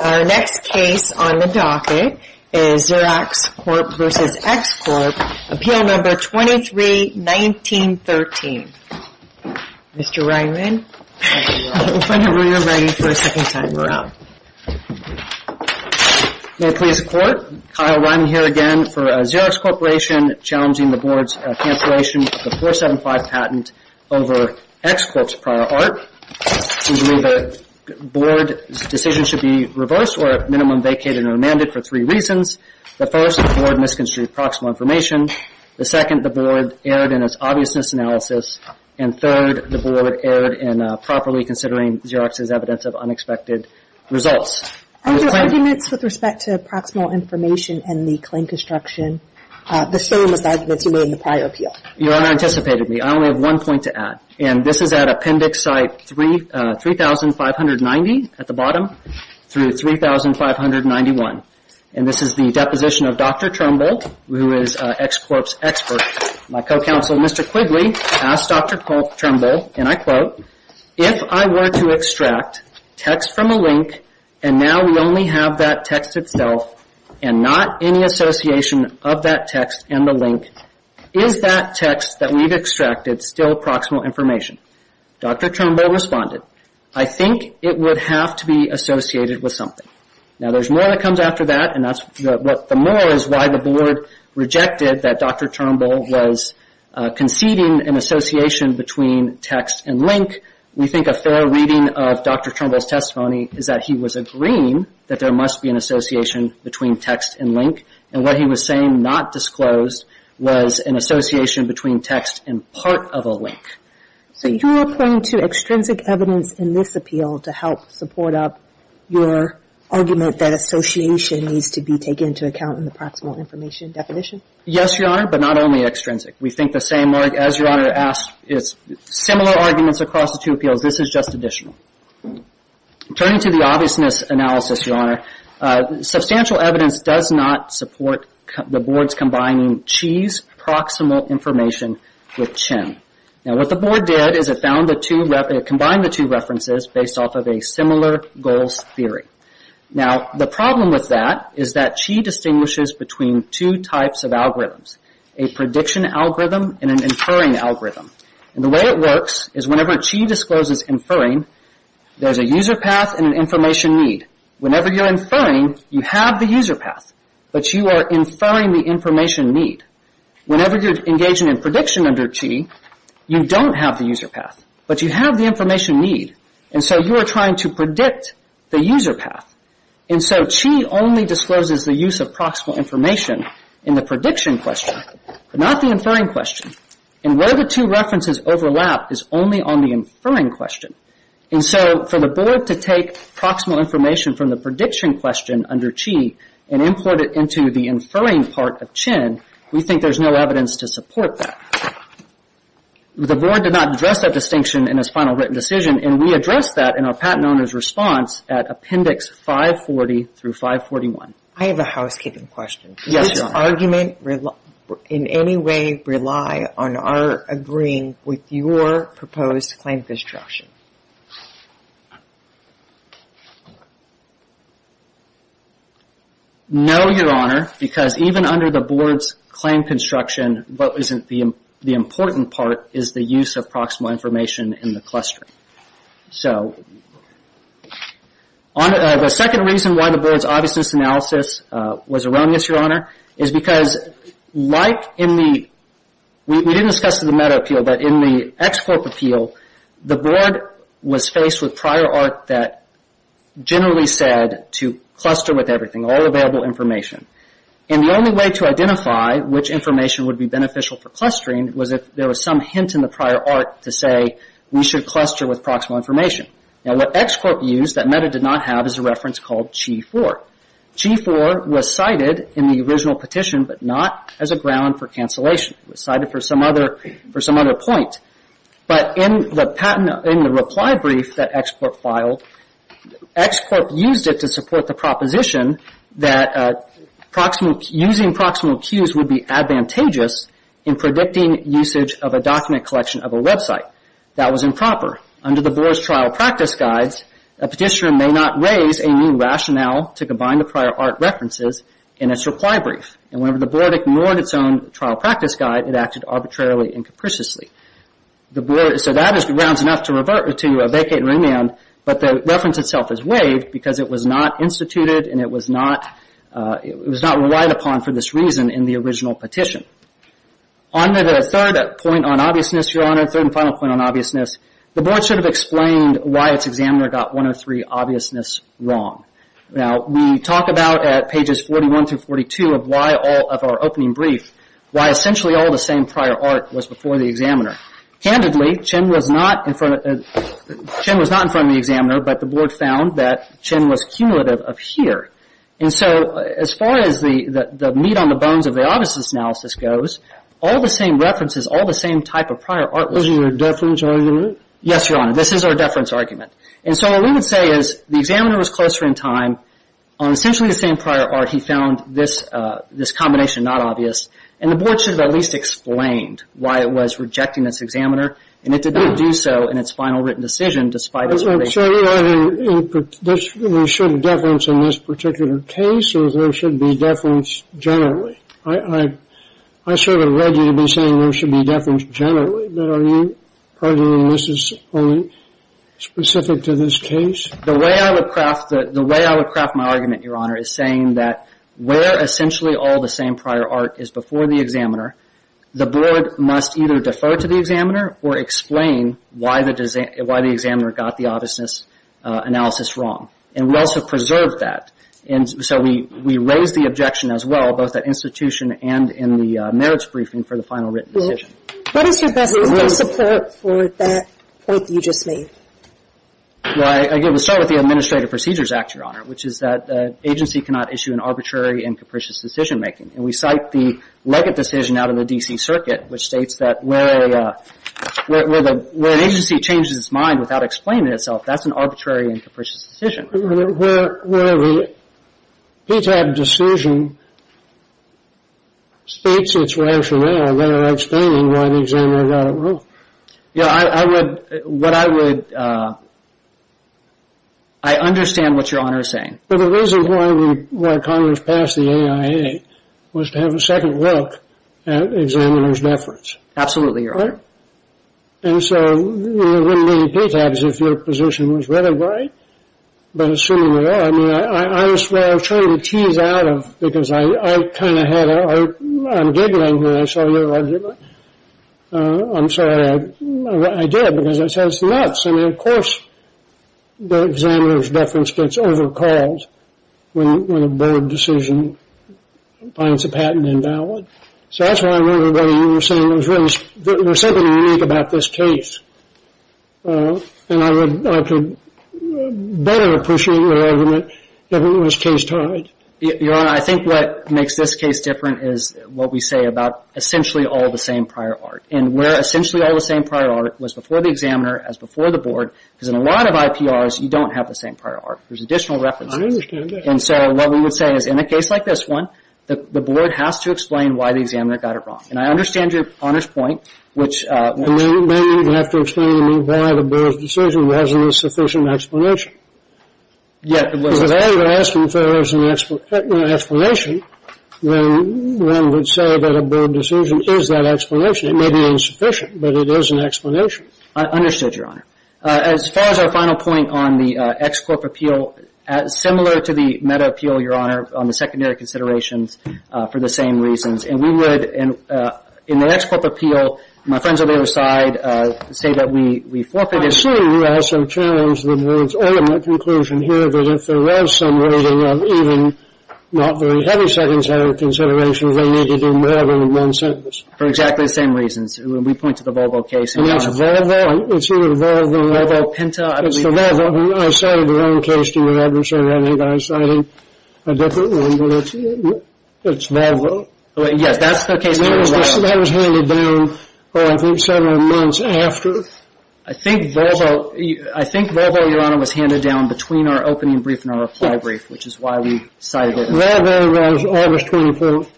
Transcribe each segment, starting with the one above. Our next case on the docket is Xerox Corp. v. X Corp. Appeal No. 23-1913. Mr. Ryman, whenever you're ready for a second time, we're out. May it please the Court? Kyle Ryman here again for Xerox Corporation, challenging the Board's cancellation of the 475 patent over X Corp.'s prior art. We believe the Board's decision should be reversed, or at minimum vacated and remanded for three reasons. The first, the Board misconstrued proximal information. The second, the Board erred in its obviousness analysis. And third, the Board erred in properly considering Xerox's evidence of unexpected results. Are your arguments with respect to proximal information and the claim construction the same as the arguments you made in the prior appeal? Your Honor anticipated me. I only have one point to add. And this is at Appendix Site 3590 at the bottom through 3591. And this is the deposition of Dr. Turnbull, who is X Corp.'s expert. My co-counsel, Mr. Quigley, asked Dr. Turnbull, and I quote, if I were to extract text from a link, and now we only have that text itself, and not any association of that text and the link, is that text that we've extracted still proximal information? Dr. Turnbull responded, I think it would have to be associated with something. Now, there's more that comes after that, and the more is why the Board rejected that Dr. Turnbull was conceding an association between text and link. We think a fair reading of Dr. Turnbull's testimony is that he was agreeing that there must be an association between text and link. And what he was saying, not disclosed, was an association between text and part of a link. So you are pointing to extrinsic evidence in this appeal to help support up your argument that association needs to be taken into account in the proximal information definition? Yes, Your Honor, but not only extrinsic. We think the same work as Your Honor asked is similar arguments across the two appeals. This is just additional. Turning to the obviousness analysis, Your Honor, substantial evidence does not support the Board's combining Chee's proximal information with Chinn. Now, what the Board did is it combined the two references based off of a similar goals theory. Now, the problem with that is that Chee distinguishes between two types of algorithms, a prediction algorithm and an inferring algorithm. And the way it works is whenever Chee discloses inferring, there's a user path and an information need. Whenever you're inferring, you have the user path, but you are inferring the information need. Whenever you're engaging in prediction under Chee, you don't have the user path, but you have the information need. And so you are trying to predict the user path. And so Chee only discloses the use of proximal information in the prediction question, but not the inferring question. And where the two references overlap is only on the inferring question. And so for the Board to take proximal information from the prediction question under Chee and import it into the inferring part of Chinn, we think there's no evidence to support that. The Board did not address that distinction in its final written decision, and we addressed that in our patent owner's response at Appendix 540 through 541. I have a housekeeping question. Yes, Your Honor. Does this argument in any way rely on our agreeing with your proposed claim construction? No, Your Honor, because even under the Board's claim construction, what isn't the important part is the use of proximal information in the clustering. So, the second reason why the Board's obviousness analysis was erroneous, Your Honor, is because, like in the, we didn't discuss it in the Meta Appeal, but in the X-Corp Appeal, the Board was faced with prior art that generally said to cluster with everything, all available information. And the only way to identify which information would be beneficial for clustering was if there was some hint in the prior art to say we should cluster with proximal information. Now, what X-Corp used that Meta did not have is a reference called Chee 4. Chee 4 was cited in the original petition, but not as a ground for cancellation. It was cited for some other point. But in the reply brief that X-Corp filed, X-Corp used it to support the proposition that using proximal cues would be advantageous in predicting usage of a document collection of a website. That was improper. Under the Board's trial practice guides, a petitioner may not raise a new rationale to combine the prior art references in its reply brief. And whenever the Board ignored its own trial practice guide, it acted arbitrarily and capriciously. So, that is grounds enough to revert to a vacate remand, but the reference itself is waived because it was not instituted and it was not relied upon for this reason in the original petition. On to the third point on obviousness, Your Honor, third and final point on obviousness. The Board should have explained why its examiner got 103 obviousness wrong. Now, we talk about at pages 41 through 42 of our opening brief why essentially all the same prior art was before the examiner. Candidly, Chen was not in front of the examiner, but the Board found that Chen was cumulative of here. And so, as far as the meat on the bones of the obviousness analysis goes, all the same references, all the same type of prior art was... This is a deference argument? Yes, Your Honor. This is our deference argument. And so, what we would say is the examiner was closer in time. On essentially the same prior art, he found this combination not obvious. And the Board should have at least explained why it was rejecting this examiner and it did not do so in its final written decision despite its... So, you're saying there should be deference in this particular case or there should be deference generally? I sort of read you to be saying there should be deference generally, but are you arguing this is only specific to this case? The way I would craft my argument, Your Honor, is saying that where essentially all the same prior art is before the examiner, the Board must either defer to the examiner or explain why the examiner got the obviousness analysis wrong. And we also preserved that. And so, we raised the objection as well, both at institution and in the merits briefing for the final written decision. What is your best instance of support for that point that you just made? Well, again, we'll start with the Administrative Procedures Act, Your Honor, which is that agency cannot issue an arbitrary and capricious decision-making. And we cite the Legate decision out of the D.C. Circuit, which states that where an agency changes its mind without explaining itself, that's an arbitrary and capricious decision. Where the PTAB decision states its rationale without explaining why the examiner got it wrong. Yeah, I would – what I would – I understand what Your Honor is saying. But the reason why Congress passed the AIA was to have a second look at examiner's deference. Absolutely, Your Honor. Right? And so, there wouldn't be any PTABs if your position was right or right. But assuming they are, I mean, I was trying to tease out of – because I kind of had a – I'm giggling here, I saw your argument. I'm sorry. I did, because it sounds nuts. I mean, of course, the examiner's deference gets over-called when a board decision finds a patent invalid. So that's why I remember what you were saying. There's something unique about this case. And I could better appreciate your argument if it was case tied. Your Honor, I think what makes this case different is what we say about essentially all the same prior art. And where essentially all the same prior art was before the examiner as before the board. Because in a lot of IPRs, you don't have the same prior art. There's additional references. I understand that. And so, what we would say is in a case like this one, the board has to explain why the examiner got it wrong. And I understand your Honor's point, which – And then you'd have to explain to me why the board's decision wasn't a sufficient explanation. Yeah, it wasn't. Because if all you're asking for is an explanation, then one would say that a board decision is that explanation. It may be insufficient, but it is an explanation. I understood, Your Honor. As far as our final point on the ex-corp appeal, similar to the meta-appeal, Your Honor, on the secondary considerations, for the same reasons. And we would, in the ex-corp appeal, my friends on the other side, say that we forfeited – I assume you also challenged the board's ultimate conclusion here that if there was some rating of even not very heavy secondary considerations, they needed to do more than one sentence. For exactly the same reasons. We point to the Volvo case. And it's Volvo. It's either Volvo or Volvo Penta. It's the Volvo. I cited the wrong case, Your Honor, so I think I'm citing a different one. But it's Volvo. Yes, that's the case. That was handed down, I think, several months after. I think Volvo, Your Honor, was handed down between our opening brief and our reply brief, which is why we cited it. Volvo was August 24th.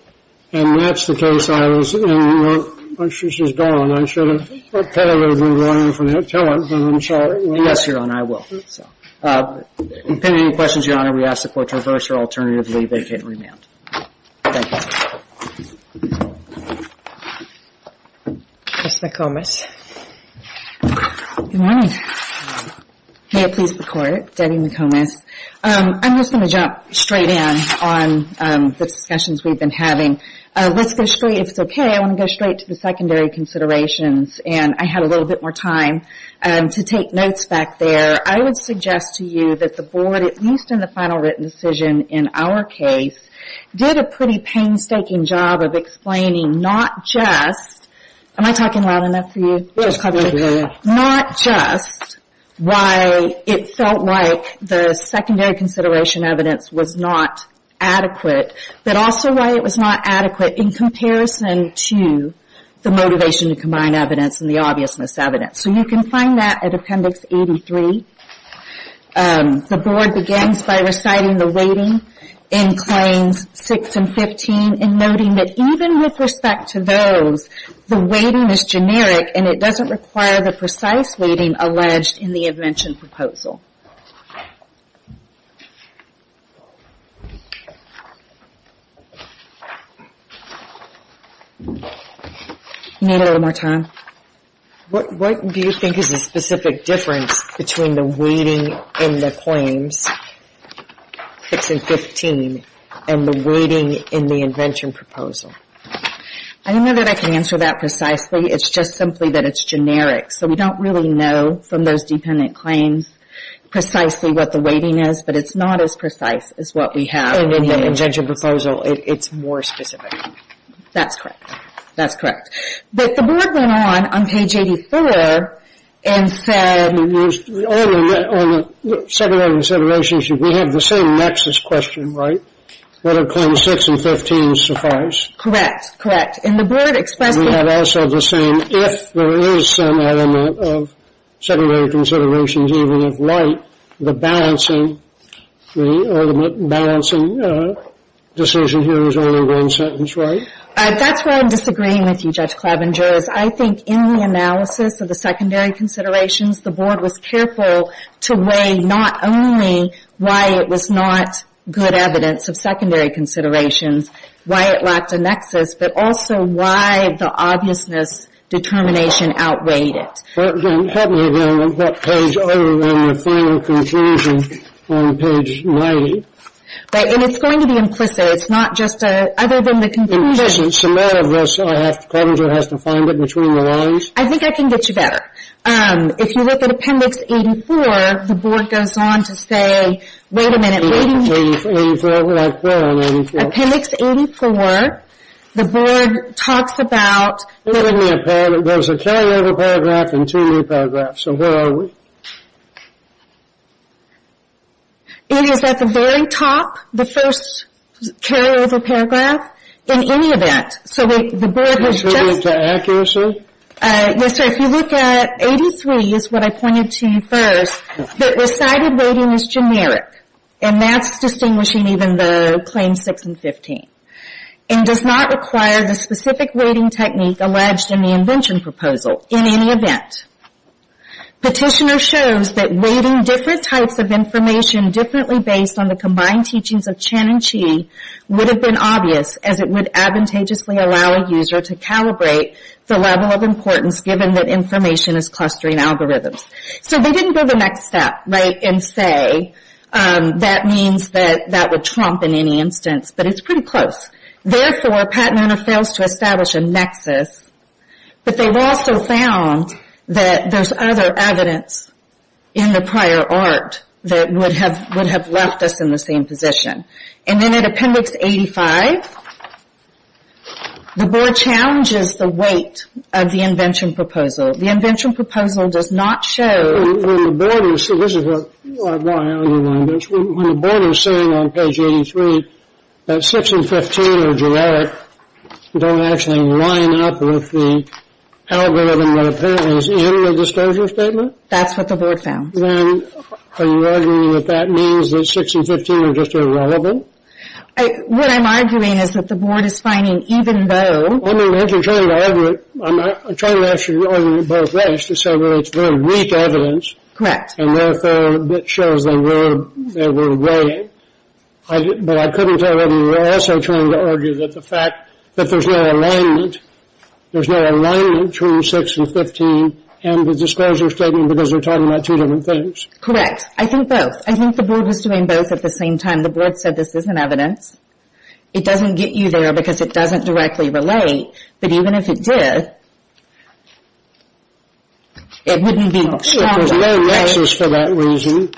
And that's the case I was in. Well, my sister's gone. I should have probably moved on from that. Tell her, but I'm sorry. Yes, Your Honor, I will. If you have any questions, Your Honor, we ask the court to reverse or alternatively vacate and remand. Thank you. Ms. McComas. Good morning. May it please the Court. Debbie McComas. I'm just going to jump straight in on the discussions we've been having. Let's go straight, if it's okay, I want to go straight to the secondary considerations. And I had a little bit more time to take notes back there. I would suggest to you that the Board, at least in the final written decision in our case, did a pretty painstaking job of explaining not just Am I talking loud enough for you? Not just why it felt like the secondary consideration evidence was not adequate, but also why it was not adequate in comparison to the motivation to combine evidence and the obvious misevidence. So you can find that at Appendix 83. The Board begins by reciting the weighting in Claims 6 and 15 and noting that even with respect to those, the weighting is generic and it doesn't require the precise weighting alleged in the invention proposal. You need a little more time? What do you think is the specific difference between the weighting in the Claims 6 and 15 and the weighting in the invention proposal? I don't know that I can answer that precisely. It's just simply that it's generic. So we don't really know from those dependent claims precisely what the weighting is, but it's not as precise as what we have in the invention proposal. It's more specific. That's correct. That's correct. But the Board went on, on page 84, and said On the secondary considerations, we have the same nexus question, right? Whether Claims 6 and 15 suffice? Correct, correct. And the Board expressed We have also the same, if there is some element of secondary considerations, even if light, the balancing, the ultimate balancing decision here is only one sentence, right? That's where I'm disagreeing with you, Judge Klebinger, is I think in the analysis of the secondary considerations, the Board was careful to weigh not only why it was not good evidence of secondary considerations, why it lacked a nexus, but also why the obviousness determination outweighed it. Help me again on that page, other than the final conclusion on page 90. Right, and it's going to be implicit. It's not just a, other than the conclusion In essence, the matter of this, I have, Klebinger has to find it between the lines. I think I can get you better. If you look at appendix 84, the Board goes on to say, wait a minute, wait a minute Appendix 84, right there on 84 Appendix 84, the Board talks about There's a carryover paragraph and two new paragraphs, so where are we? It is at the very top, the first carryover paragraph, in any event. So the Board has just Can you give me the accuracy? If you look at 83, is what I pointed to first, that recited weighting is generic. And that's distinguishing even though claims 6 and 15. And does not require the specific weighting technique alleged in the invention proposal, in any event. Petitioner shows that weighting different types of information differently based on the combined teachings of Chen and Chi Would have been obvious, as it would advantageously allow a user to calibrate The level of importance, given that information is clustering algorithms. So they didn't go the next step, right, and say That means that that would trump in any instance, but it's pretty close. Therefore, Pat and Anna fails to establish a nexus But they've also found that there's other evidence In the prior art, that would have left us in the same position. And then in Appendix 85 The Board challenges the weight of the invention proposal The invention proposal does not show When the Board is saying on page 83 That 6 and 15 are generic Don't actually line up with the algorithm That apparently is in the disclosure statement That's what the Board found Are you arguing that that means that 6 and 15 are just irrelevant? What I'm arguing is that the Board is finding even though I'm trying to ask you to argue both ways To say that it's very weak evidence And therefore it shows they were weighing But I couldn't tell whether you were also trying to argue That the fact that there's no alignment There's no alignment between 6 and 15 And the disclosure statement Because they're talking about two different things Correct, I think both I think the Board was doing both at the same time The Board said this isn't evidence It doesn't get you there Because it doesn't directly relate But even if it did It wouldn't be There's no nexus for that reason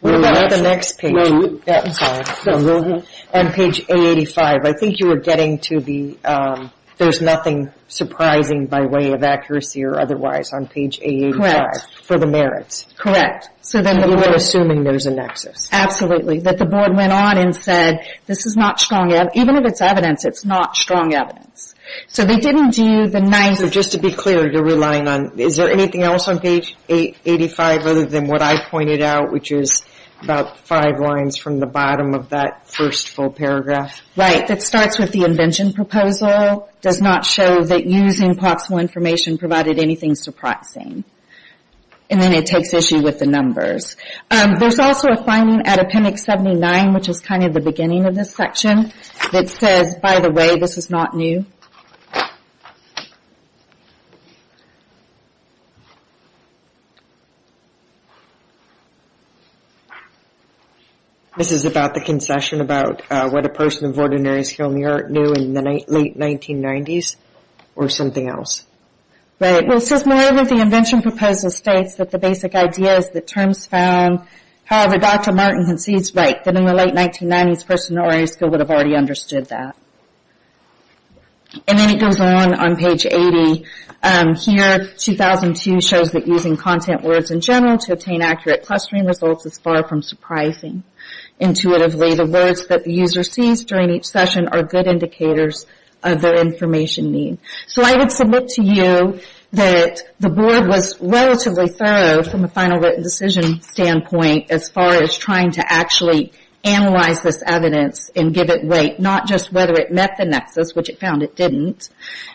What about the next page? I'm sorry On page A85 I think you were getting to the There's nothing surprising By way of accuracy or otherwise On page A85 For the merits You were assuming there's a nexus Absolutely That the Board went on and said Even if it's evidence It's not strong evidence Just to be clear Is there anything else on page A85 Other than what I pointed out Which is about 5 lines From the bottom of that first full paragraph Right, that starts with the Invention proposal Does not show that using proximal information Provided anything surprising And then it takes issue with the numbers There's also a finding At appendix 79 Which is kind of the beginning of this section That says, by the way, this is not new This is about the concession About what a person of ordinary skill knew In the late 1990s Or something else Right, well it says moreover The Invention proposal states that The basic idea is that terms found However, Dr. Martin concedes right That in the late 1990s, a person of ordinary skill Would have already understood that And then it goes on On page 80 Here, 2002 shows that Using content words in general To obtain accurate clustering results Is far from surprising Intuitively, the words that the user sees During each session are good indicators Of their information need So I would submit to you That the board was relatively thorough From a final written decision Standpoint as far as trying to Actually analyze this evidence And give it weight Not just whether it met the nexus Which it found it didn't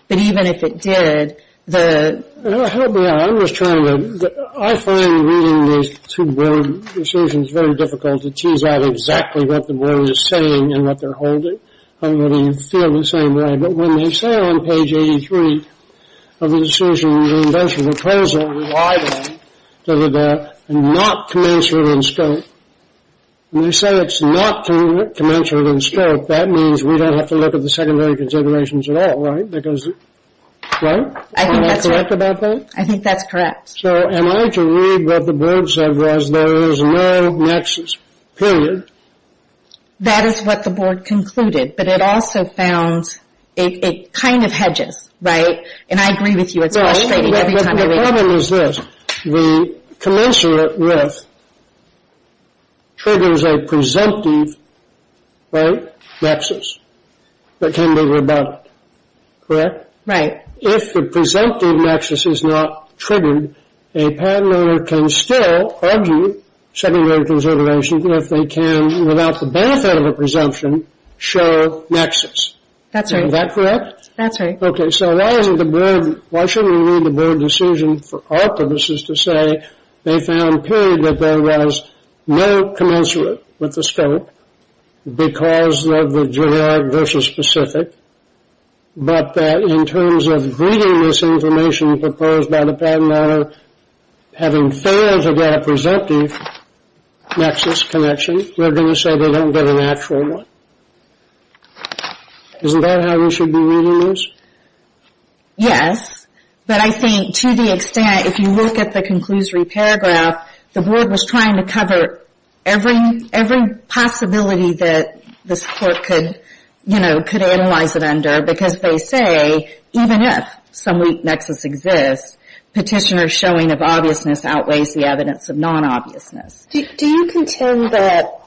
But even if it did I find reading These two board decisions Very difficult to tease out Exactly what the board is saying And what they're holding I really feel the same way But when they say on page 83 Of the decision The Invention proposal That it's not commensurate in scope And they say It's not commensurate in scope That means we don't have to look at The secondary considerations at all Right? Am I correct about that? I think that's correct So am I to read what the board said Was there is no nexus Period That is what the board Concluded but it also found It kind of hedges Right? And I agree with you It's frustrating every time I read it The problem is this The commensurate riff Triggers a presumptive Right? Nexus That can be rebutted Correct? Right If the presumptive nexus is not Triggered a patent owner Can still argue Secondary considerations If they can without the benefit of a presumption Show nexus Is that correct? So why isn't the board Why shouldn't we need the board decision For our purposes to say They found period that there was No commensurate with the scope Because of the generic Versus specific But that in terms of Reading this information proposed by The patent owner Having failed to get A presumptive nexus Connection Rather than say they don't get an actual one Isn't that how we should be Reading this? Yes, but I think To the extent if you look at the conclusory Paragraph the board was trying To cover every Possibility that This court could Analyze it under because they say Even if some weak nexus Exists, petitioner showing Of obviousness outweighs the evidence Of non-obviousness Do you contend that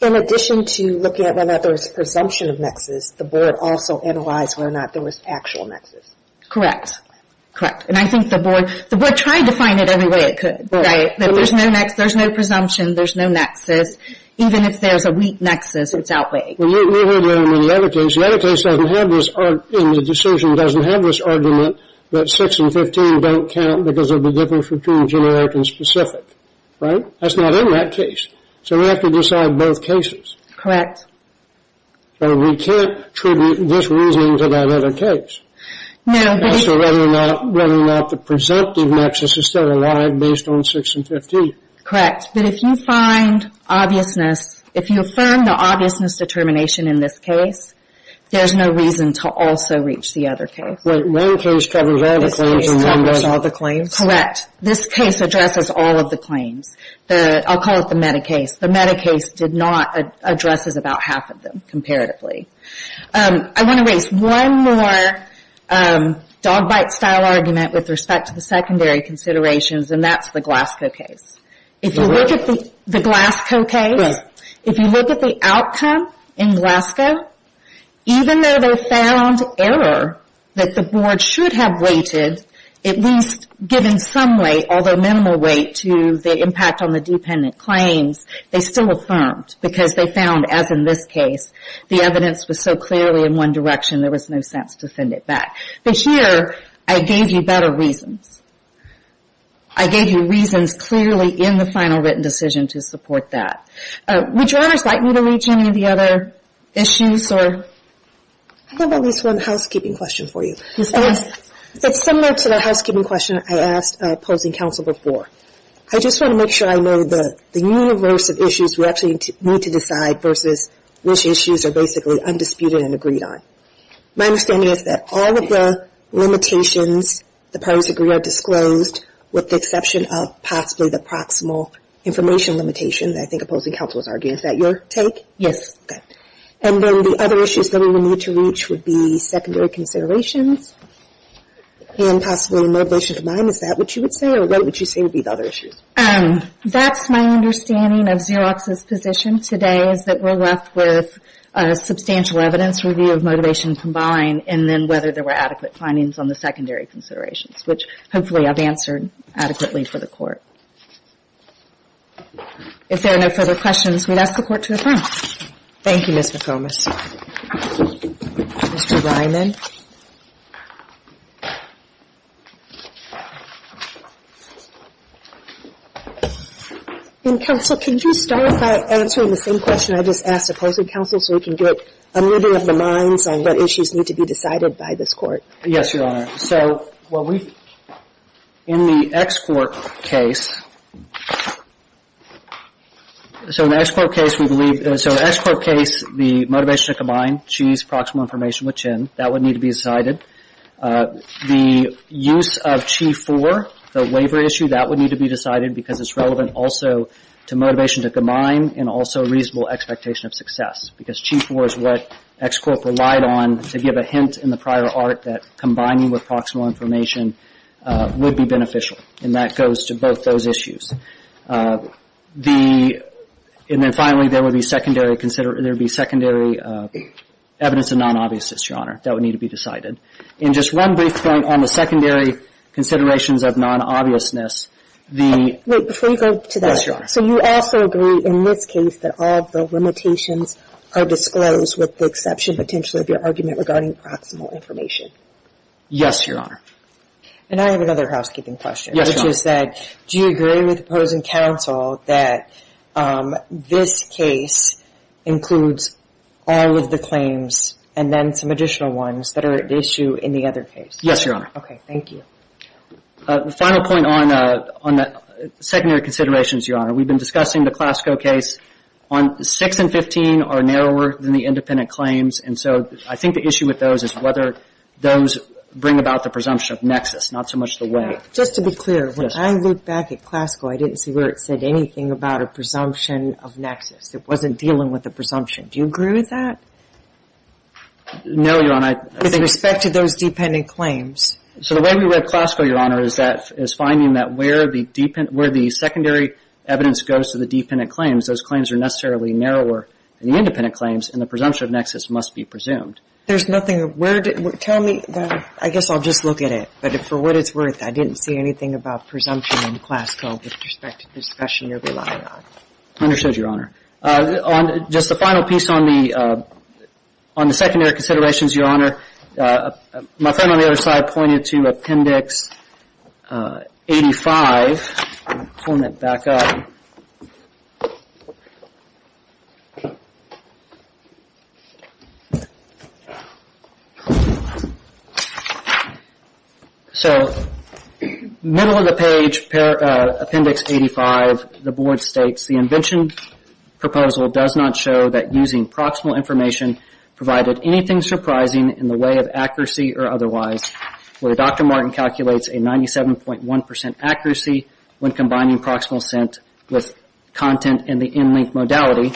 In addition to looking at whether there was Presumption of nexus, the board also Analyzed whether or not there was actual nexus Correct And I think the board tried to find it Every way it could There's no presumption, there's no nexus Even if there's a weak nexus It's outweighed The other case doesn't have this The decision doesn't have this argument That 6 and 15 don't count Because of the difference between generic And specific, right? That's not in that case, so we have to decide Both cases So we can't Tribute this reasoning to that other case No, but if Whether or not the presumptive nexus Is still alive based on 6 and 15 Correct, but if you find Obviousness, if you affirm The obviousness determination in this case There's no reason to also Reach the other case This case covers all the claims? Correct, this case addresses All of the claims I'll call it the meta case The meta case addresses about half of them Comparatively I want to raise one more Dog bite style argument With respect to the secondary considerations And that's the Glasgow case If you look at the Glasgow case If you look at the outcome In Glasgow Even though they found error That the board should have rated At least given some weight Although minimal weight To the impact on the dependent claims They still affirmed Because they found, as in this case The evidence was so clearly in one direction There was no sense to send it back But here, I gave you better reasons I gave you Reasons clearly in the final written Decision to support that Would you rather cite me to reach Any of the other issues? I have at least one housekeeping Question for you It's similar to the housekeeping question I asked opposing counsel before I just want to make sure I know The universe of issues we actually need to Decide versus which issues Are basically undisputed and agreed on My understanding is that all of the Limitations The parties agree are disclosed With the exception of possibly the proximal Information limitation Is that your take? And then the other issues That we would need to reach would be Secondary considerations And possibly motivation combined Is that what you would say? That's my understanding Of Xerox's position today Is that we're left with Substantial evidence review of motivation combined And then whether there were adequate Findings on the secondary considerations Which hopefully I've answered adequately For the court If there are no further questions We'd ask the court to adjourn Thank you Ms. McComas Mr. Ryman Counsel Can you start by answering the same question I just asked opposing counsel So we can get a moving of the minds On what issues need to be decided by this court Yes your honor So In the X court case So in the X court case We believe The motivation to combine Proximal information That would need to be decided The use of Chi 4 The waiver issue That would need to be decided Because it's relevant also to Motivation to combine And also reasonable expectation of success Because Chi 4 is what X court relied on To give a hint in the prior art That combining with proximal information Would be beneficial And that goes to both those issues And then finally there would be Secondary Evidence of non-obviousness your honor That would need to be decided And just one brief point on the secondary Considerations of non-obviousness Wait before you go to that So you also agree in this case That all of the limitations Are disclosed with the exception potentially Of your argument regarding proximal information Yes your honor And I have another housekeeping question Which is that do you agree with opposing counsel That This case Includes all of the claims And then some additional ones That are at issue in the other case Yes your honor The final point on The secondary considerations your honor We've been discussing the Clasco case On 6 and 15 are narrower Than the independent claims And so I think the issue with those is whether Those bring about the presumption of nexus Not so much the way Just to be clear when I look back at Clasco I didn't see where it said anything about a presumption Of nexus It wasn't dealing with a presumption Do you agree with that? No your honor With respect to those dependent claims So the way we read Clasco your honor Is finding that where The secondary evidence Goes to the dependent claims Those claims are necessarily narrower Than the independent claims And the presumption of nexus must be presumed I guess I'll just look at it But for what it's worth I didn't see anything about presumption In Clasco with respect to the discussion you're relying on Understood your honor Just the final piece On the secondary considerations your honor My friend on the other side Pointed to appendix 85 Pulling it back up So middle of the page Appendix 85 The board states The invention proposal does not show That using proximal information Provided anything surprising In the way of accuracy or otherwise Where Dr. Martin calculates A 97.1% accuracy When combining proximal scent With content in the in-link modality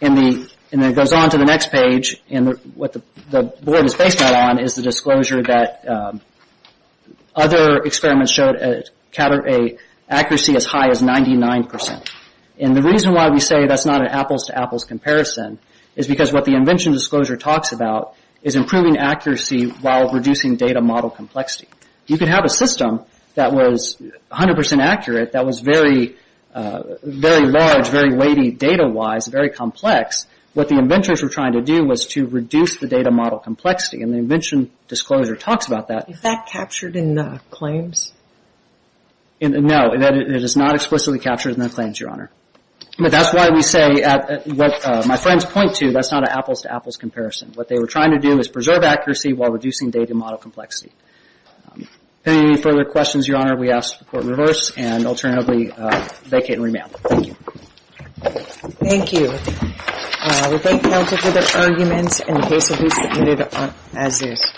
And then it goes On to the next page And what the board is based on Is the disclosure that Other experiments showed Accuracy as high as 99% And the reason why we say that's not an apples to apples Comparison is because what the invention Disclosure talks about is improving Accuracy while reducing data model Complexity. You can have a system That was 100% accurate That was very Very large, very weighty data wise Very complex What the inventors were trying to do was to reduce The data model complexity And the invention disclosure talks about that Is that captured in the claims? No It is not explicitly captured in the claims your honor But that's why we say What my friends point to That's not an apples to apples comparison What they were trying to do is preserve accuracy While reducing data model complexity If there are any further questions your honor We ask to report in reverse And alternatively vacate and remail Thank you Thank you We thank counsel for their arguments And the case will be submitted as is